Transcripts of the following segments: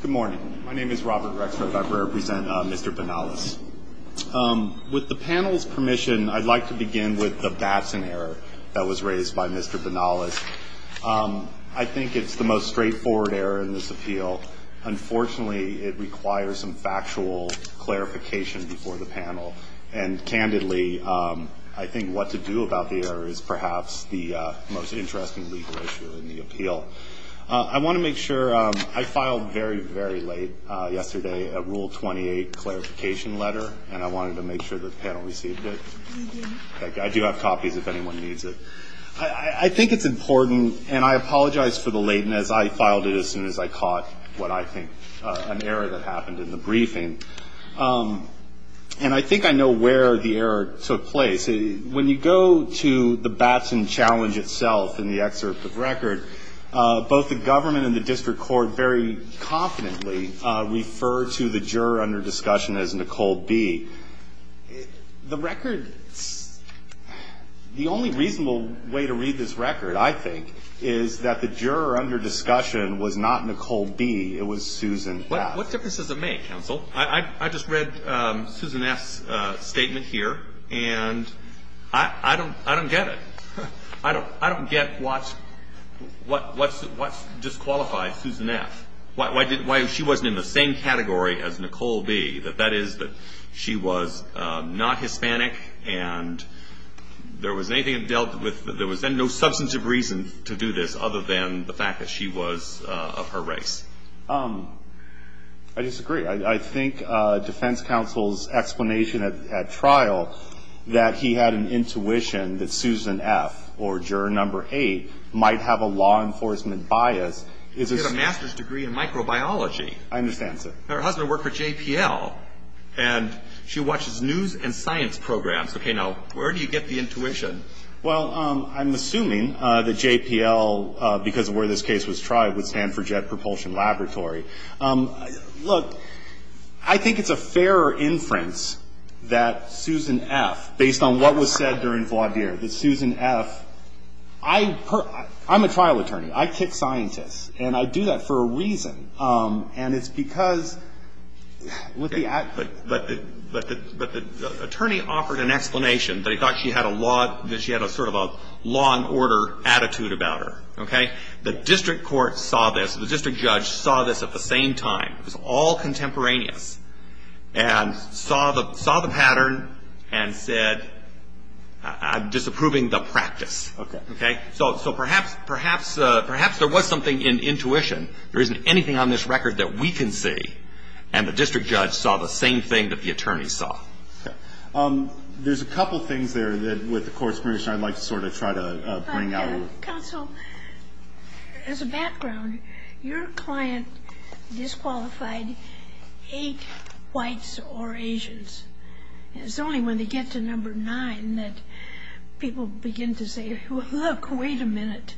Good morning. My name is Robert Rexford. I represent Mr. Banalas. With the panel's permission, I'd like to begin with the Batson error that was raised by Mr. Banalas. I think it's the most straightforward error in this appeal. Unfortunately, it requires some factual clarification before the panel, and candidly, I think what to do about the error is perhaps the most interesting legal issue in the appeal. I want to make sure I filed very, very late yesterday a Rule 28 clarification letter, and I wanted to make sure the panel received it. I do have copies if anyone needs it. I think it's important, and I apologize for the lateness. I filed it as soon as I caught what I think an error that happened in the briefing. And I think I know where the error took place. When you go to the Batson challenge itself in the excerpt of record, both the government and the district court very confidently refer to the juror under discussion as Nicole B. The record, the only reasonable way to read this record, I think, is that the juror under discussion was not Nicole B. It was Susan Batson. What difference does it make, counsel? I just read Susan F.'s statement here, and I don't get it. I don't get what disqualified Susan F. Why she wasn't in the same category as Nicole B., that that is that she was not Hispanic, and there was no substantive reason to do this other than the fact that she was of her race. I disagree. I think defense counsel's explanation at trial that he had an intuition that Susan F., or juror number eight, might have a law enforcement bias is a... She has a master's degree in microbiology. I understand, sir. Her husband worked for JPL, and she watches news and science programs. Okay, now, where do you get the intuition? Well, I'm assuming that JPL, because of where this case was tried, would stand for Jet Propulsion Laboratory. Look, I think it's a fairer inference that Susan F., based on what was said during Vlaudier, that Susan F., I'm a trial attorney. I kick scientists, and I do that for a reason, and it's because with the... But the attorney offered an explanation that he thought she had a sort of a law and order attitude about her, okay? The district court saw this. The district judge saw this at the same time. It was all contemporaneous, and saw the pattern and said, I'm disapproving the practice. Okay. So perhaps there was something in intuition. There isn't anything on this record that we can see, and the district judge saw the same thing that the attorney saw. There's a couple things there that, with the court's permission, I'd like to sort of try to bring out. Counsel, as a background, your client disqualified eight whites or Asians. It's only when they get to number nine that people begin to say, well, look, wait a minute.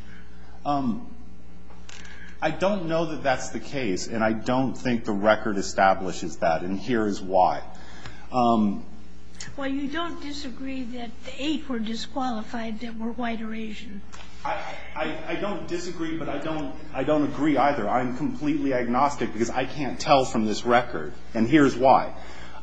I don't know that that's the case, and I don't think the record establishes that, and here is why. Well, you don't disagree that the eight were disqualified that were white or Asian. I don't disagree, but I don't agree either. I'm completely agnostic, because I can't tell from this record, and here's why.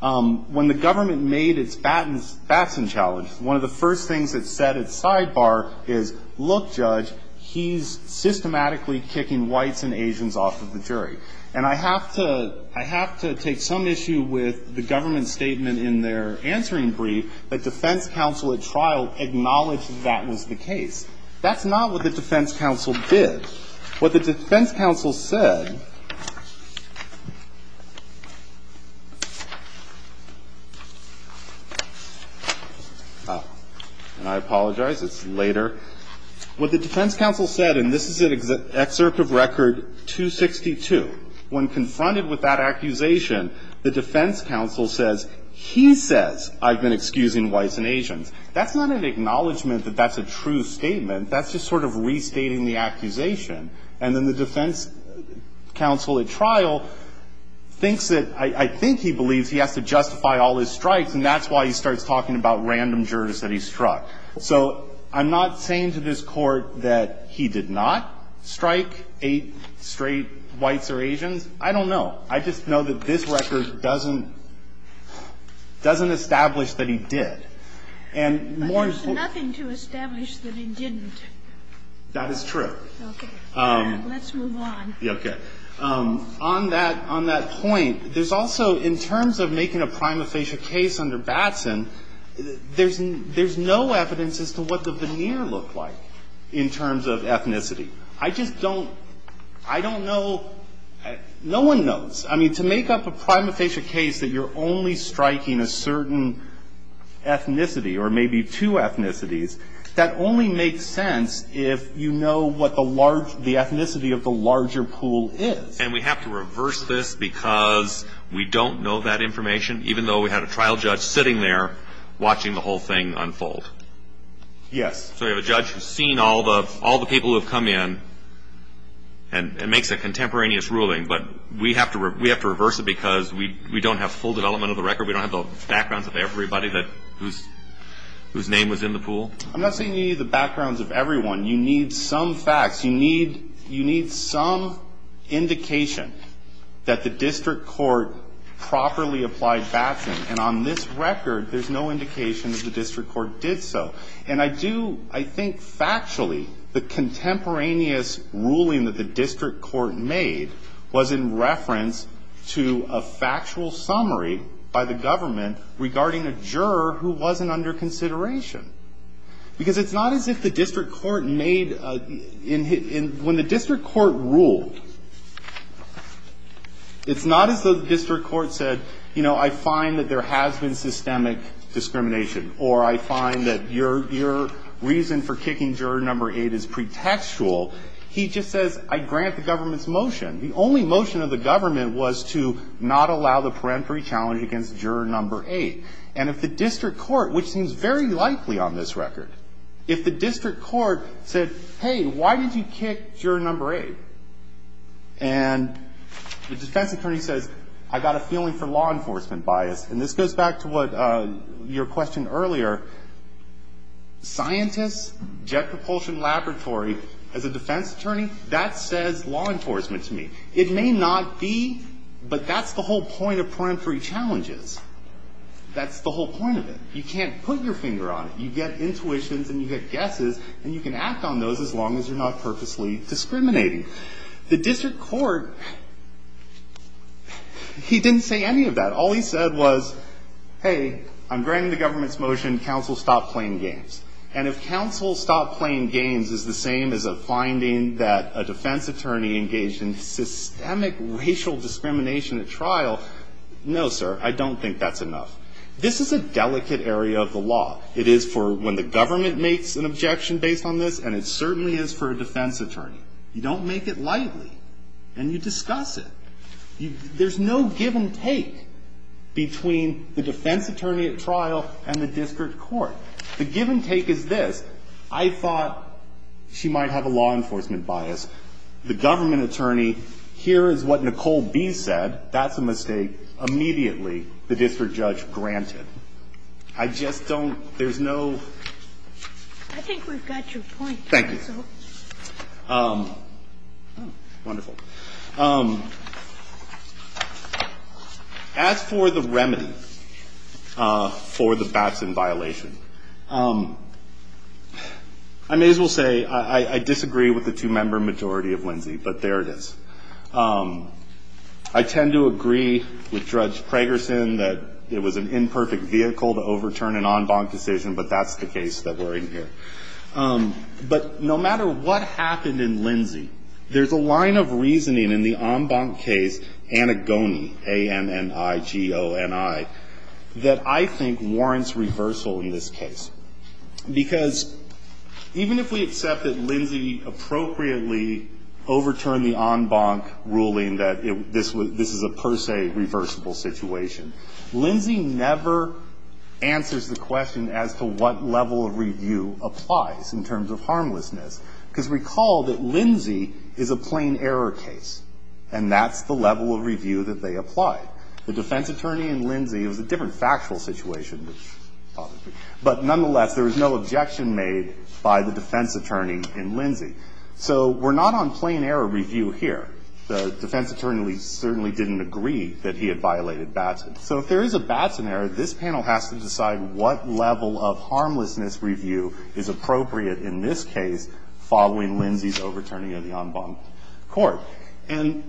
When the government made its Batson challenge, one of the first things it said at sidebar is, look, judge, he's systematically kicking whites and Asians off of the jury. And I have to take some issue with the government statement in their answering brief that defense counsel at trial acknowledged that was the case. That's not what the defense counsel did. What the defense counsel said, and I apologize, it's later. What the defense counsel said, and this is an excerpt of record 262. When confronted with that accusation, the defense counsel says, he says, I've been excusing whites and Asians. That's not an acknowledgment that that's a true statement. That's just sort of restating the accusation. And then the defense counsel at trial thinks that, I think he believes he has to justify all his strikes, and that's why he starts talking about random jurors that he struck. So I'm not saying to this Court that he did not strike eight straight whites or Asians. I don't know. I just know that this record doesn't, doesn't establish that he did. And more important. But there's nothing to establish that he didn't. That is true. Okay. Let's move on. Okay. On that, on that point, there's also, in terms of making a prima facie case under Batson, I just don't, I don't know, no one knows. I mean, to make up a prima facie case that you're only striking a certain ethnicity or maybe two ethnicities, that only makes sense if you know what the large, the ethnicity of the larger pool is. And we have to reverse this because we don't know that information, even though we had a trial judge sitting there watching the whole thing unfold. Yes. So you have a judge who's seen all the people who have come in and makes a contemporaneous ruling. But we have to reverse it because we don't have full development of the record. We don't have the backgrounds of everybody whose name was in the pool. I'm not saying you need the backgrounds of everyone. You need some facts. You need some indication that the district court properly applied Batson. And on this record, there's no indication that the district court did so. And I do, I think factually, the contemporaneous ruling that the district court made was in reference to a factual summary by the government regarding a juror who wasn't under consideration. Because it's not as if the district court made, when the district court ruled, it's not as though the district court said, you know, I find that there has been systemic discrimination, or I find that your reason for kicking juror number 8 is pretextual. He just says, I grant the government's motion. The only motion of the government was to not allow the peremptory challenge against juror number 8. And if the district court, which seems very likely on this record, if the district court said, hey, why did you kick juror number 8? And the defense attorney says, I got a feeling for law enforcement bias. And this goes back to what your question earlier. Scientists, jet propulsion laboratory, as a defense attorney, that says law enforcement to me. It may not be, but that's the whole point of peremptory challenges. That's the whole point of it. You can't put your finger on it. You get intuitions and you get guesses, and you can act on those as long as you're not purposely discriminating. The district court, he didn't say any of that. All he said was, hey, I'm granting the government's motion. Counsel, stop playing games. And if counsel stop playing games is the same as a finding that a defense attorney engaged in systemic racial discrimination at trial, no, sir. I don't think that's enough. This is a delicate area of the law. It is for when the government makes an objection based on this, and it certainly is for a defense attorney. You don't make it lightly, and you discuss it. There's no give and take between the defense attorney at trial and the district court. The give and take is this. I thought she might have a law enforcement bias. The government attorney, here is what Nicole B. said. That's a mistake. Immediately, the district judge granted. I just don't, there's no. I think we've got your point. Thank you. Wonderful. As for the remedy for the Batson violation, I may as well say I disagree with the two-member majority of Lindsay, but there it is. I tend to agree with Judge Pragerson that it was an imperfect vehicle to overturn an en banc decision, but that's the case that we're in here. But no matter what happened in Lindsay, there's a line of reasoning in the en banc case, Anagoni, A-N-N-I-G-O-N-I, that I think warrants reversal in this case. Because even if we accept that Lindsay appropriately overturned the en banc ruling that this is a per se reversible situation, Lindsay never answers the question as to what level of review applies in terms of harmlessness. Because recall that Lindsay is a plain error case, and that's the level of review that they applied. The defense attorney in Lindsay, it was a different factual situation, but nonetheless, there was no objection made by the defense attorney in Lindsay. So we're not on plain error review here. The defense attorney certainly didn't agree that he had violated Batson. So if there is a Batson error, this panel has to decide what level of harmlessness review is appropriate in this case following Lindsay's overturning of the en banc court. And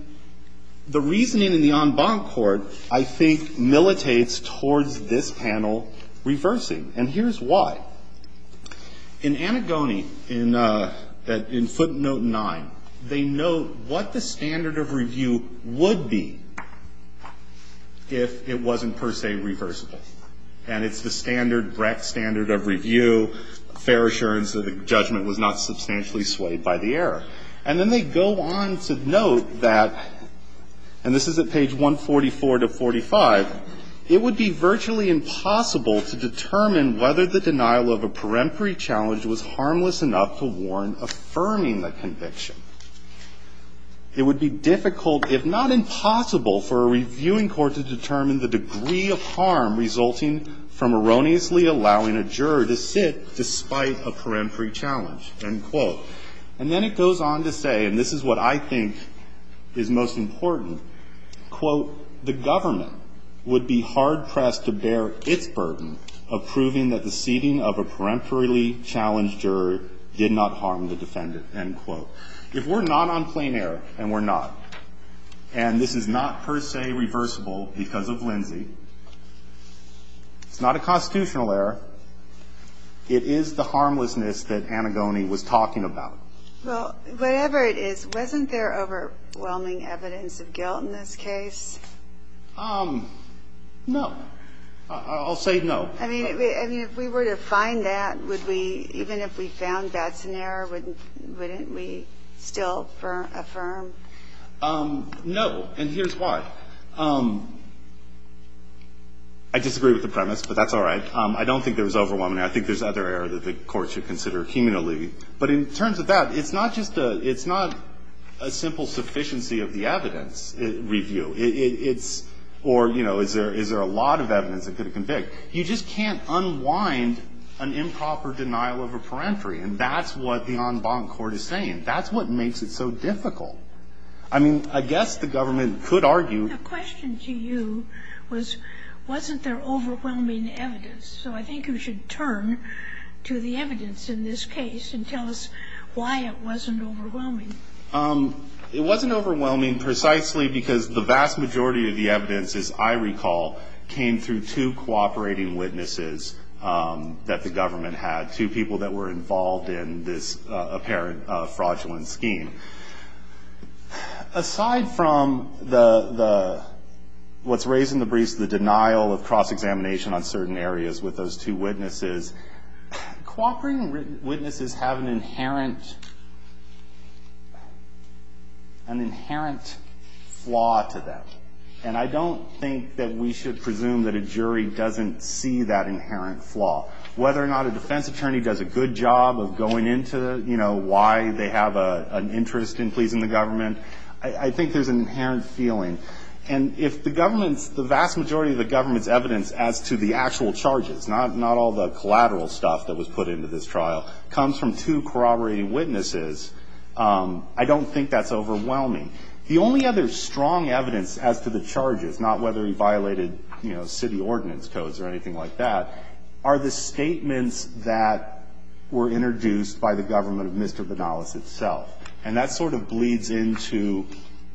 the reasoning in the en banc court, I think, militates towards this panel reversing. And here's why. In Anagoni, in footnote 9, they note what the standard of review would be if it wasn't per se reversible. And it's the standard, Brecht standard of review, fair assurance that the judgment was not substantially swayed by the error. And then they go on to note that, and this is at page 144 to 45, it would be virtually impossible to determine whether the denial of a peremptory challenge was harmless enough to warrant affirming the conviction. It would be difficult, if not impossible, for a reviewing court to determine the degree of harm resulting from erroneously allowing a juror to sit despite a peremptory challenge, end quote. And then it goes on to say, and this is what I think is most important, quote, the government would be hard-pressed to bear its burden of proving that the seating of a peremptorily challenged juror did not harm the defendant, end quote. If we're not on plain error, and we're not, and this is not per se reversible because of Lindsay, it's not a constitutional error. It is the harmlessness that Anagoni was talking about. Well, whatever it is, wasn't there overwhelming evidence of guilt in this case? No. I'll say no. I mean, if we were to find that, would we, even if we found that's an error, wouldn't we still affirm? No. And here's why. I disagree with the premise, but that's all right. I don't think there was overwhelming. I think there's other error that the Court should consider cumulatively. But in terms of that, it's not just a – it's not a simple sufficiency of the evidence review. It's – or, you know, is there a lot of evidence that could have convict? You just can't unwind an improper denial of a peremptory. And that's what the en banc court is saying. That's what makes it so difficult. I mean, I guess the government could argue – The question to you was, wasn't there overwhelming evidence? So I think you should turn to the evidence in this case and tell us why it wasn't overwhelming. It wasn't overwhelming precisely because the vast majority of the evidence, as I recall, came through two cooperating witnesses that the government had, two people that were involved in this apparent fraudulent scheme. Aside from the – what's raised in the briefs, the denial of cross-examination on certain areas with those two witnesses, cooperating witnesses have an inherent – an inherent flaw to them. And I don't think that we should presume that a jury doesn't see that inherent flaw. Whether or not a defense attorney does a good job of going into, you know, why they have an interest in pleasing the government, I think there's an inherent feeling. And if the government's – the vast majority of the government's evidence as to the actual charges, not all the collateral stuff that was put into this trial, comes from two corroborating witnesses, I don't think that's overwhelming. The only other strong evidence as to the charges, not whether he violated, you know, city ordinance codes or anything like that, are the statements that were introduced by the government of Mr. Banalas itself. And that sort of bleeds into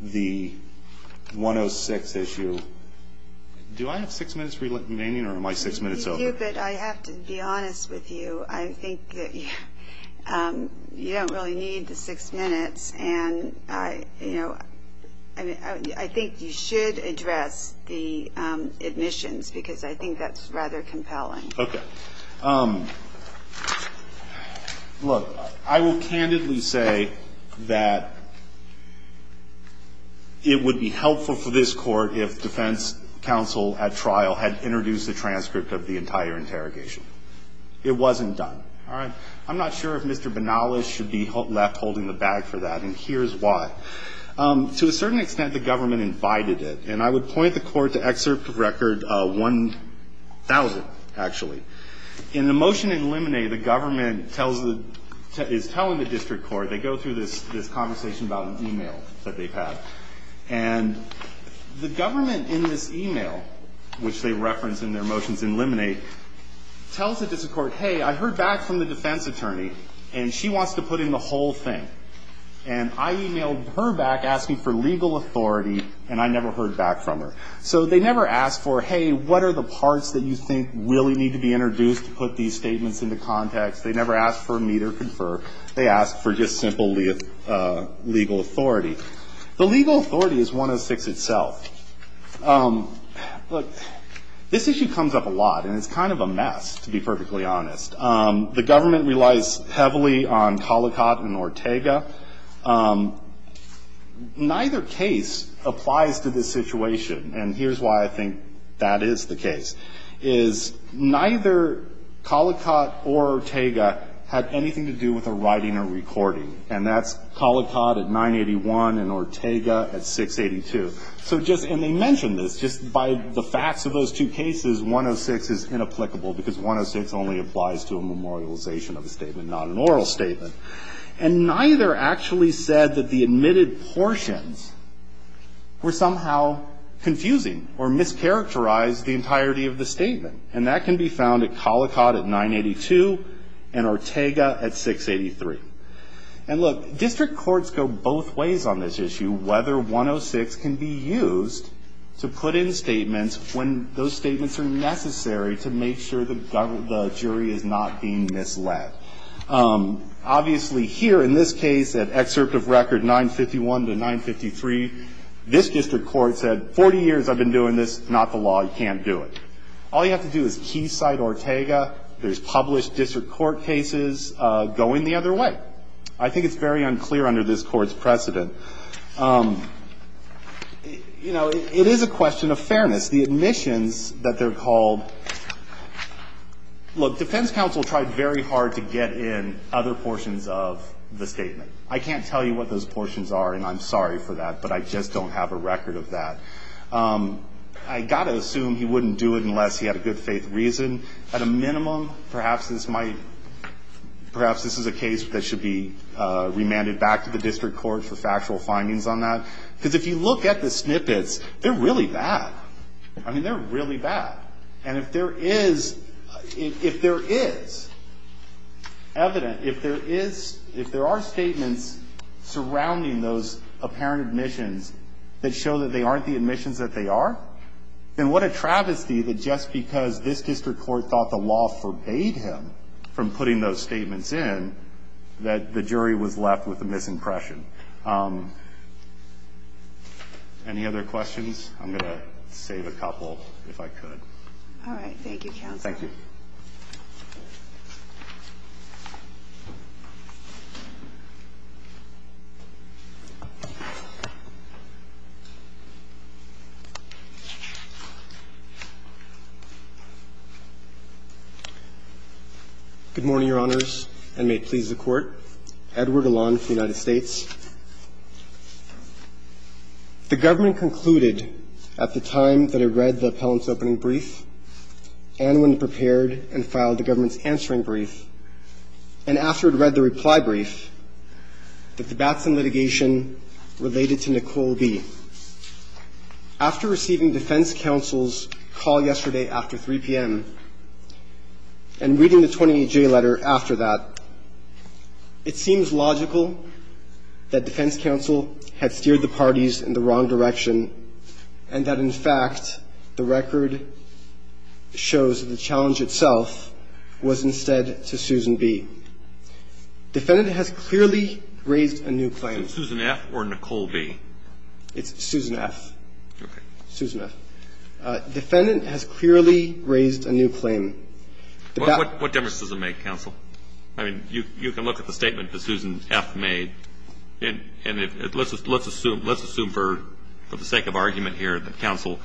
the 106 issue. Do I have six minutes remaining, or am I six minutes over? You do, but I have to be honest with you. I think that you don't really need the six minutes, and, you know, Okay. Look, I will candidly say that it would be helpful for this court if defense counsel at trial had introduced a transcript of the entire interrogation. It wasn't done. All right? I'm not sure if Mr. Banalas should be left holding the bag for that, and here's why. To a certain extent, the government invited it, and I would point the court to excerpt of record 1,000, actually. In the motion in Lemonade, the government is telling the district court, they go through this conversation about an e-mail that they've had, and the government in this e-mail, which they reference in their motions in Lemonade, tells it to the court, hey, I heard back from the defense attorney, and she wants to put in the whole thing. And I e-mailed her back asking for legal authority, and I never heard back from her. So they never asked for, hey, what are the parts that you think really need to be introduced to put these statements into context? They never asked for meet or confer. They asked for just simple legal authority. The legal authority is 106 itself. Look, this issue comes up a lot, and it's kind of a mess, to be perfectly honest. The government relies heavily on Collicott and Ortega. Neither case applies to this situation, and here's why I think that is the case, is neither Collicott or Ortega had anything to do with a writing or recording, and that's Collicott at 981 and Ortega at 682. So just, and they mention this, just by the facts of those two cases, because 106 is inapplicable, because 106 only applies to a memorialization of a statement, not an oral statement. And neither actually said that the admitted portions were somehow confusing or mischaracterized the entirety of the statement, and that can be found at Collicott at 982 and Ortega at 683. And, look, district courts go both ways on this issue, whether 106 can be used to put in statements when those statements are necessary to make sure the jury is not being misled. Obviously here, in this case, at excerpt of record 951 to 953, this district court said, 40 years I've been doing this, not the law, you can't do it. All you have to do is keysight Ortega. There's published district court cases going the other way. I think it's very unclear under this Court's precedent. You know, it is a question of fairness. The admissions that they're called, look, defense counsel tried very hard to get in other portions of the statement. I can't tell you what those portions are, and I'm sorry for that, but I just don't have a record of that. I've got to assume he wouldn't do it unless he had a good faith reason. At a minimum, perhaps this might, perhaps this is a case that should be remanded back to the district court for factual findings on that. Because if you look at the snippets, they're really bad. I mean, they're really bad. And if there is, if there is evidence, if there is, if there are statements surrounding those apparent admissions that show that they aren't the admissions that they are, then what a travesty that just because this district court thought the law forbade him from putting those statements in, that the jury was left with a misimpression. Any other questions? I'm going to save a couple if I could. All right. Thank you, counsel. Thank you. Good morning, Your Honors, and may it please the Court. Edward Elan from the United States. The government concluded at the time that I read the appellant's opening brief and when it prepared and filed the government's answering brief, and after it read the reply brief, that the Batson litigation related to Nicole B. After receiving defense counsel's call yesterday after 3 p.m. and reading the 28J letter after that, it seems logical that defense counsel had steered the parties in the wrong direction and that, in fact, the record shows that the challenge itself was instead to Susan B. Defendant has clearly raised a new claim. Is it Susan F. or Nicole B.? It's Susan F. Okay. Susan F. Defendant has clearly raised a new claim. What difference does it make, counsel? I mean, you can look at the statement that Susan F. made, and let's assume for the sake of argument here that counsel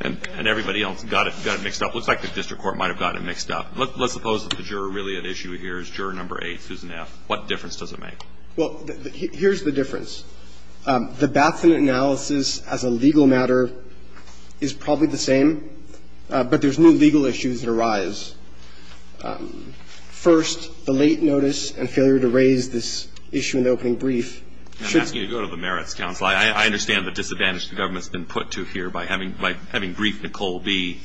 and everybody else got it mixed up. It looks like the district court might have got it mixed up. Let's suppose that the juror really at issue here is juror number 8, Susan F. What difference does it make? Well, here's the difference. The Batson analysis as a legal matter is probably the same, but there's new legal issues that arise. First, the late notice and failure to raise this issue in the opening brief should be. I'm asking you to go to the merits, counsel. I understand the disadvantage the government's been put to here by having briefed Nicole B.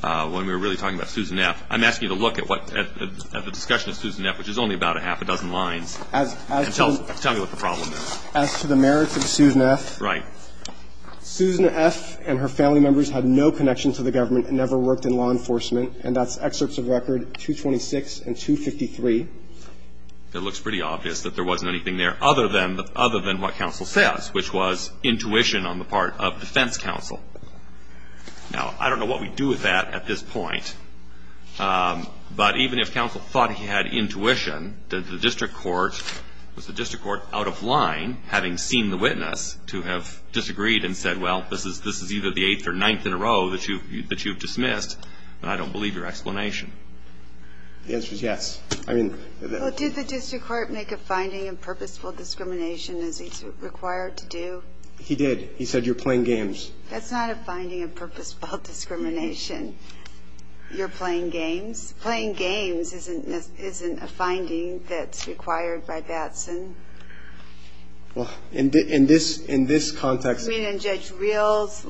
when we were really talking about Susan F. I'm asking you to look at the discussion of Susan F., which is only about a half a dozen lines, and tell me what the problem is. As to the merits of Susan F. Right. Susan F. and her family members had no connection to the government and never worked in law enforcement, and that's excerpts of record 226 and 253. It looks pretty obvious that there wasn't anything there other than what counsel says, which was intuition on the part of defense counsel. Now, I don't know what we do with that at this point, but even if counsel thought he had intuition, did the district court, was the district court out of line, having seen the witness, to have disagreed and said, well, this is either the eighth or ninth in a row that you've dismissed? Then I don't believe your explanation. The answer is yes. Well, did the district court make a finding of purposeful discrimination as it's required to do? He did. He said you're playing games. That's not a finding of purposeful discrimination. You're playing games. Playing games isn't a finding that's required by Batson. Well, in this context. I mean, in Judge Reel's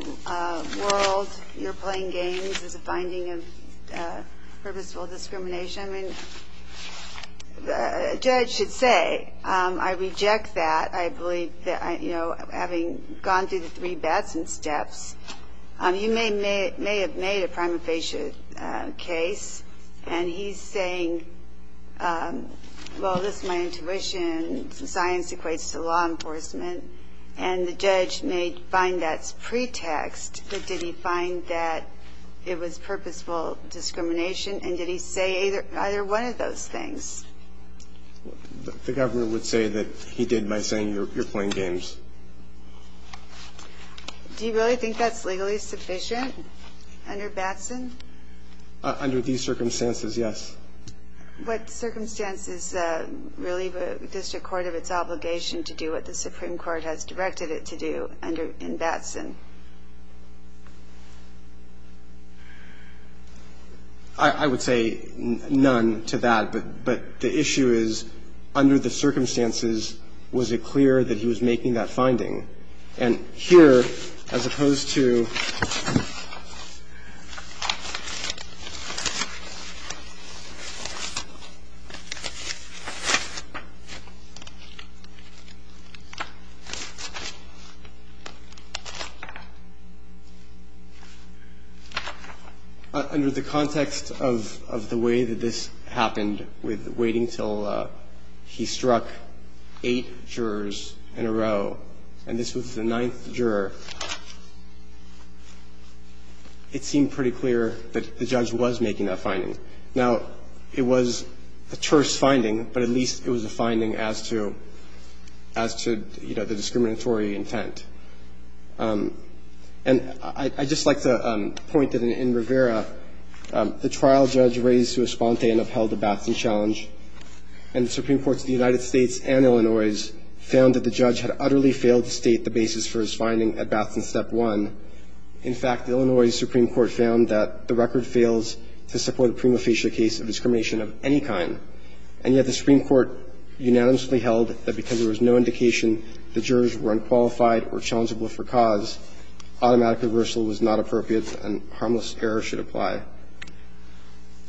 world, you're playing games as a finding of purposeful discrimination. Judge, I mean, a judge should say, I reject that. I believe that, you know, having gone through the three bets and steps, you may have made a prima facie case, and he's saying, well, this is my intuition. Science equates to law enforcement. And the judge may find that's pretext, but did he find that it was purposeful discrimination, and did he say either one of those things? The governor would say that he did by saying you're playing games. Do you really think that's legally sufficient under Batson? Under these circumstances, yes. What circumstances relieve a district court of its obligation to do what the Supreme Court has directed it to do in Batson? I would say none to that, but the issue is, under the circumstances, was it clear that he was making that finding? And here, as opposed to under the context of the way that this happened, with waiting until he struck eight jurors in a row, and this was the ninth juror, it seemed pretty clear that the judge was making that finding. Now, it was a terse finding, but at least it was a finding as to, you know, the discriminatory intent. And I'd just like to point that in Rivera, the trial judge raised to a sponte and upheld the Batson challenge, and the Supreme Courts of the United States and Illinois found that the judge had utterly failed to state the basis for his finding at Batson Step 1. In fact, the Illinois Supreme Court found that the record fails to support a prima facie case of discrimination of any kind, and yet the Supreme Court unanimously held that because there was no indication the jurors were unqualified or challengeable for cause, automatic reversal was not appropriate and harmless error should apply.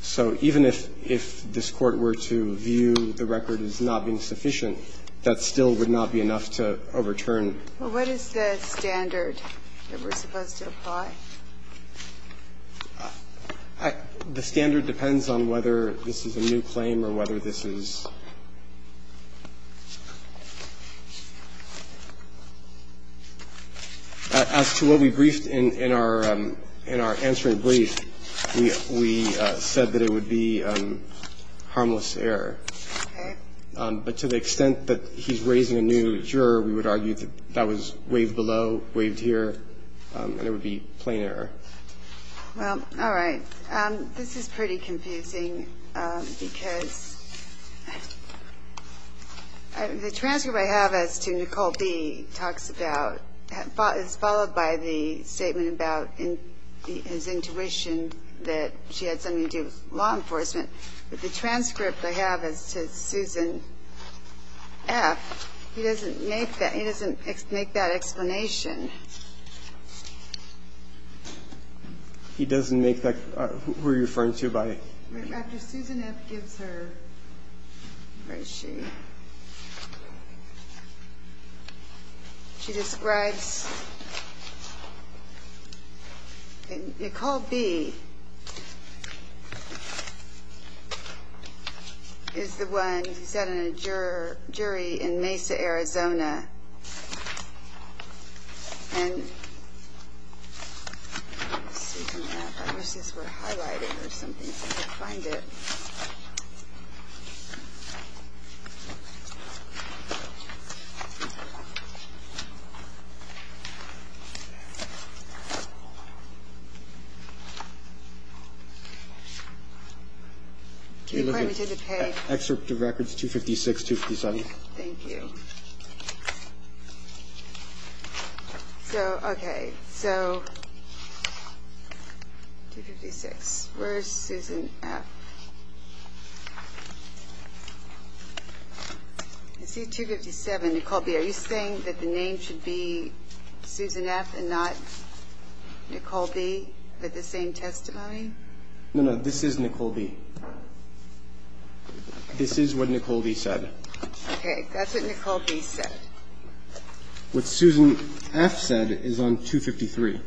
So even if this Court were to view the record as not being sufficient, that still would not be enough to overturn. Well, what is the standard that we're supposed to apply? The standard depends on whether this is a new claim or whether this is – as to what we briefed in our answering brief, we said that it would be harmless error. But to the extent that he's raising a new juror, we would argue that that was waived below, waived here, and it would be plain error. Well, all right. This is pretty confusing because the transcript I have as to Nicole B. talks about – is followed by the statement about his intuition that she had something to do with law enforcement. But the transcript I have as to Susan F., he doesn't make that – he doesn't make that – who are you referring to by – After Susan F. gives her – where is she? She describes – Nicole B. is the one who's had a jury in Mesa, Arizona. And let's see from that. I wish this were highlighted or something so I could find it. According to the page. Excerpt of records 256, 257. Thank you. So, okay. So, 256. Where is Susan F.? I see 257. Nicole B., are you saying that the name should be Susan F. and not Nicole B. with the same testimony? No, no. This is Nicole B. This is what Nicole B. said. Okay. That's what Nicole B. said. What Susan F. said is on 253.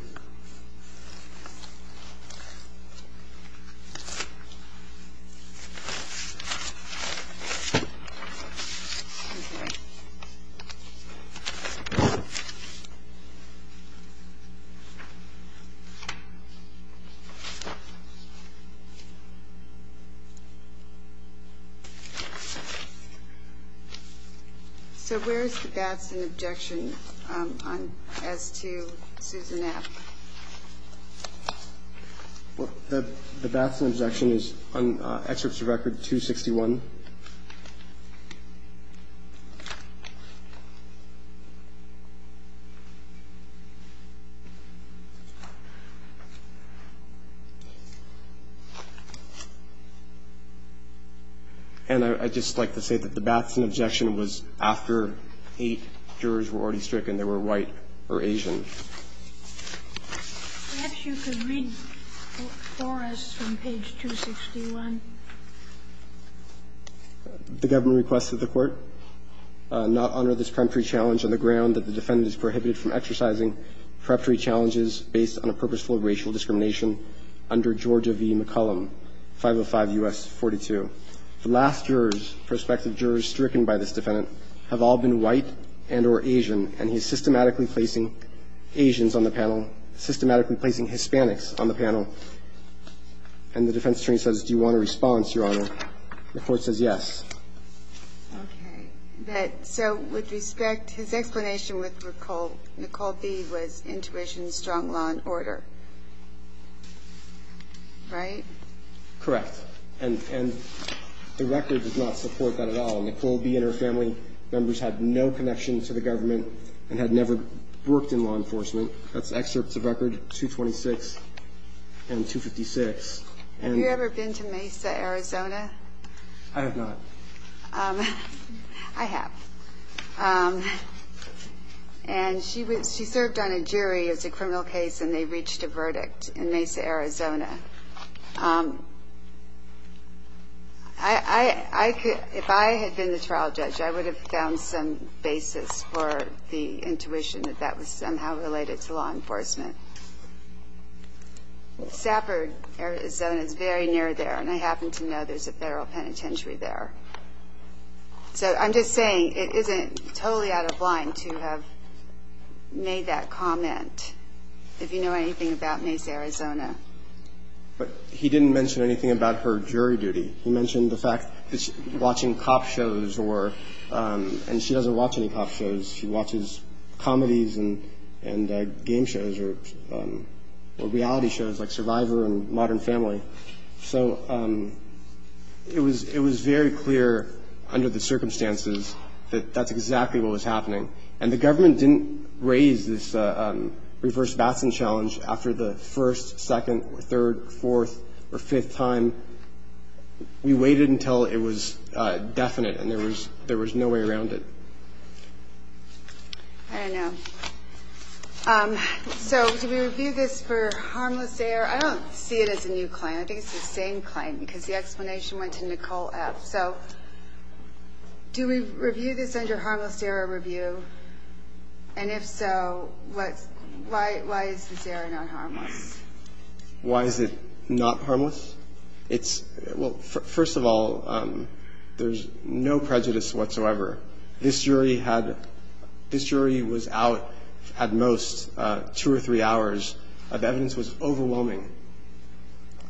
Okay. Well, the Batson objection is on excerpts of record 261. And I'd just like to say that the Batson objection was after eight jurors were already stricken that were white or Asian. Perhaps you could read for us from page 261. The government requests that the Court not honor this preemptory challenge on the ground that the defendant is prohibited from exercising preemptory challenges based on a purposeful racial discrimination under Georgia v. McCollum, 505 U.S. 42. The last jurors, prospective jurors stricken by this defendant, have all been white and or Asian, and he's systematically placing Asians on the panel, systematically placing Hispanics on the panel. And the defense attorney says, do you want a response, Your Honor? The Court says yes. Okay. So with respect, his explanation with Nicole B. was intuition, strong law and order. Right? Correct. And the record does not support that at all. Nicole B. and her family members had no connection to the government and had never worked in law enforcement. That's excerpts of record 226 and 256. Have you ever been to Mesa, Arizona? I have not. I have. And she served on a jury as a criminal case, and they reached a verdict in Mesa, Arizona. If I had been the trial judge, I would have found some basis for the intuition that that was somehow related to law enforcement. Safford, Arizona is very near there, and I happen to know there's a federal penitentiary there. So I'm just saying it isn't totally out of line to have made that comment, if you know anything about Mesa, Arizona. But he didn't mention anything about her jury duty. He mentioned the fact that she's watching cop shows, and she doesn't watch any cop shows. She watches comedies and game shows or reality shows like Survivor and Modern Family. So it was very clear under the circumstances that that's exactly what was happening. And the government didn't raise this reverse Batson challenge after the first, second, third, fourth, or fifth time. We waited until it was definite, and there was no way around it. I don't know. So did we review this for harmless error? I don't see it as a new claim. I think it's the same claim, because the explanation went to Nicole F. So do we review this under harmless error review? And if so, why is this error not harmless? Why is it not harmless? Well, first of all, there's no prejudice whatsoever. This jury was out at most two or three hours. The evidence was overwhelming.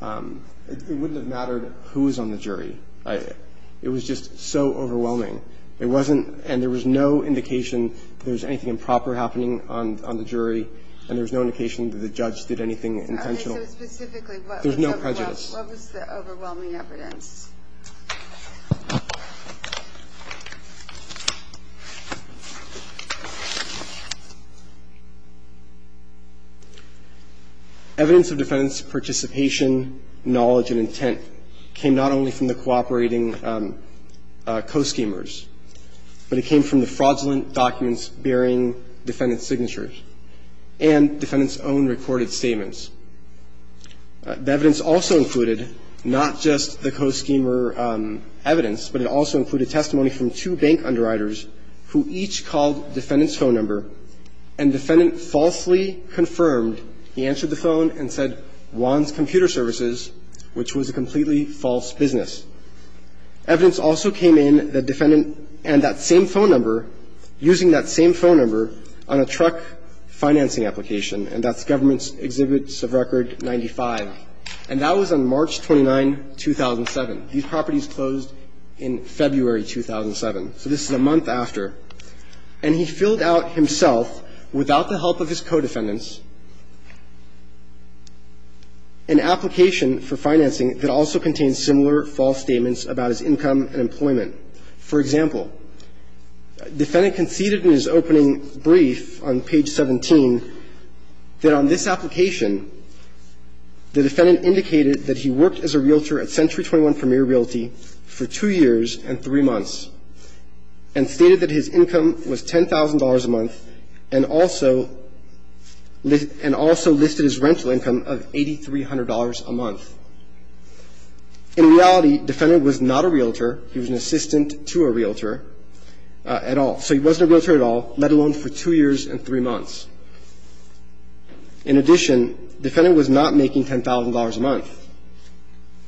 It wouldn't have mattered who was on the jury. It was just so overwhelming. It wasn't ñ and there was no indication that there was anything improper happening on the jury, and there was no indication that the judge did anything intentional. There's no prejudice. Evidence of defendant's participation, knowledge, and intent came not only from the cooperating co-schemers, but it came from the fraudulent documents bearing defendant's signatures and defendant's own recorded statements. The evidence also included not just the co-schemers, but also the co-schemers evidence, but it also included testimony from two bank underwriters who each called defendant's phone number, and defendant falsely confirmed, he answered the phone and said, Juan's Computer Services, which was a completely false business. Evidence also came in that defendant and that same phone number, using that same phone number on a truck financing application, and that's Government Exhibits of Record 95. And that was on March 29, 2007. These properties closed in February 2007. So this is a month after. And he filled out himself, without the help of his co-defendants, an application for financing that also contains similar false statements about his income and employment. For example, defendant conceded in his opening brief on page 17 that on this application the defendant indicated that he worked as a realtor at Century 21 Premier Realty for 2 years and 3 months and stated that his income was $10,000 a month and also listed his rental income of $8,300 a month. In reality, defendant was not a realtor. He was an assistant to a realtor at all. So he wasn't a realtor at all, let alone for 2 years and 3 months. In addition, defendant was not making $10,000 a month.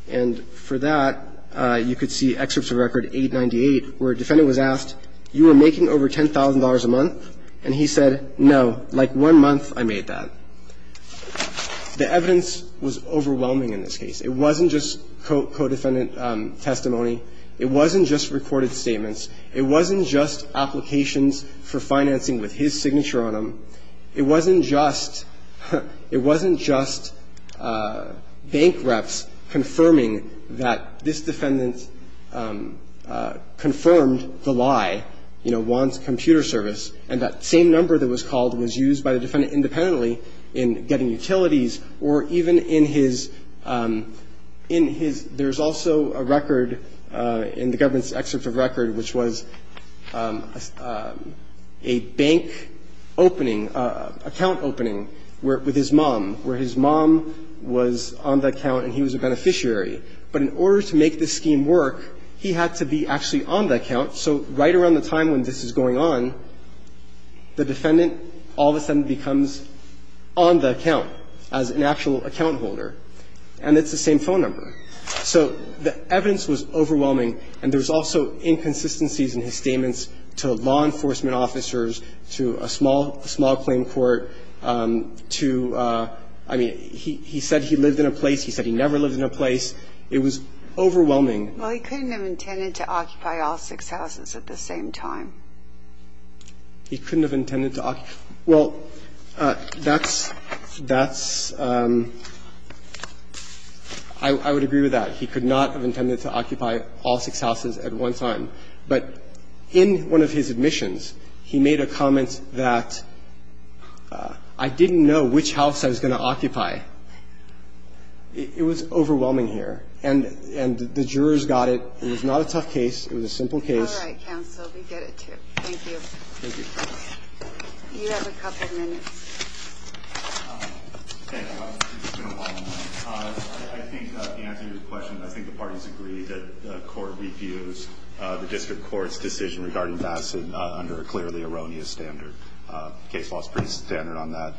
And for that, you could see Exhibits of Record 898, where a defendant was asked, you were making over $10,000 a month? And he said, no, like one month I made that. The evidence was overwhelming in this case. It wasn't just co-defendant testimony. It wasn't just recorded statements. It wasn't just applications for financing with his signature on them. It wasn't just, it wasn't just bank reps confirming that this defendant confirmed the lie, you know, wants computer service, and that same number that was called was used by the defendant independently in getting utilities or even in his, in his there's also a record in the government's Exhibits of Record which was a bank opening account opening with his mom, where his mom was on the account and he was a beneficiary. But in order to make this scheme work, he had to be actually on the account. So right around the time when this is going on, the defendant all of a sudden becomes on the account as an actual account holder. And it's the same phone number. So the evidence was overwhelming, and there's also inconsistencies in his statements to law enforcement officers, to a small, small claim court, to, I mean, he said he lived in a place, he said he never lived in a place. It was overwhelming. Well, he couldn't have intended to occupy all six houses at the same time. He couldn't have intended to occupy. Well, that's, that's, I would agree with that. He could not have intended to occupy all six houses at one time. But in one of his admissions, he made a comment that I didn't know which house I was going to occupy. It was overwhelming here. And the jurors got it. It was not a tough case. It was a simple case. All right, counsel. We get it, too. Thank you. Thank you. You have a couple minutes. Thank you. I think the answer to your question, I think the parties agree that the court refused the district court's decision regarding Batson under a clearly erroneous standard. Case law is pretty standard on that.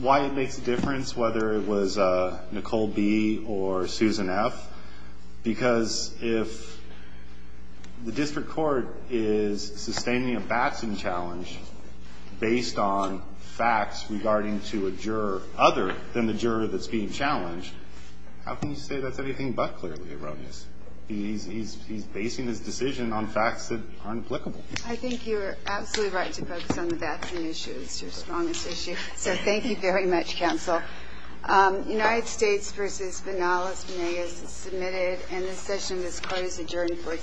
Why it makes a difference, whether it was Nicole B. or Susan F., because if the district court is sustaining a Batson challenge based on facts regarding to a juror other than the juror that's being challenged, how can you say that's anything but clearly erroneous? He's basing his decision on facts that aren't applicable. I think you're absolutely right to focus on the Batson issue. It's your strongest issue. So thank you very much, counsel. United States v. Banalas-Venegas is submitted. And this session is closed and adjourned for today.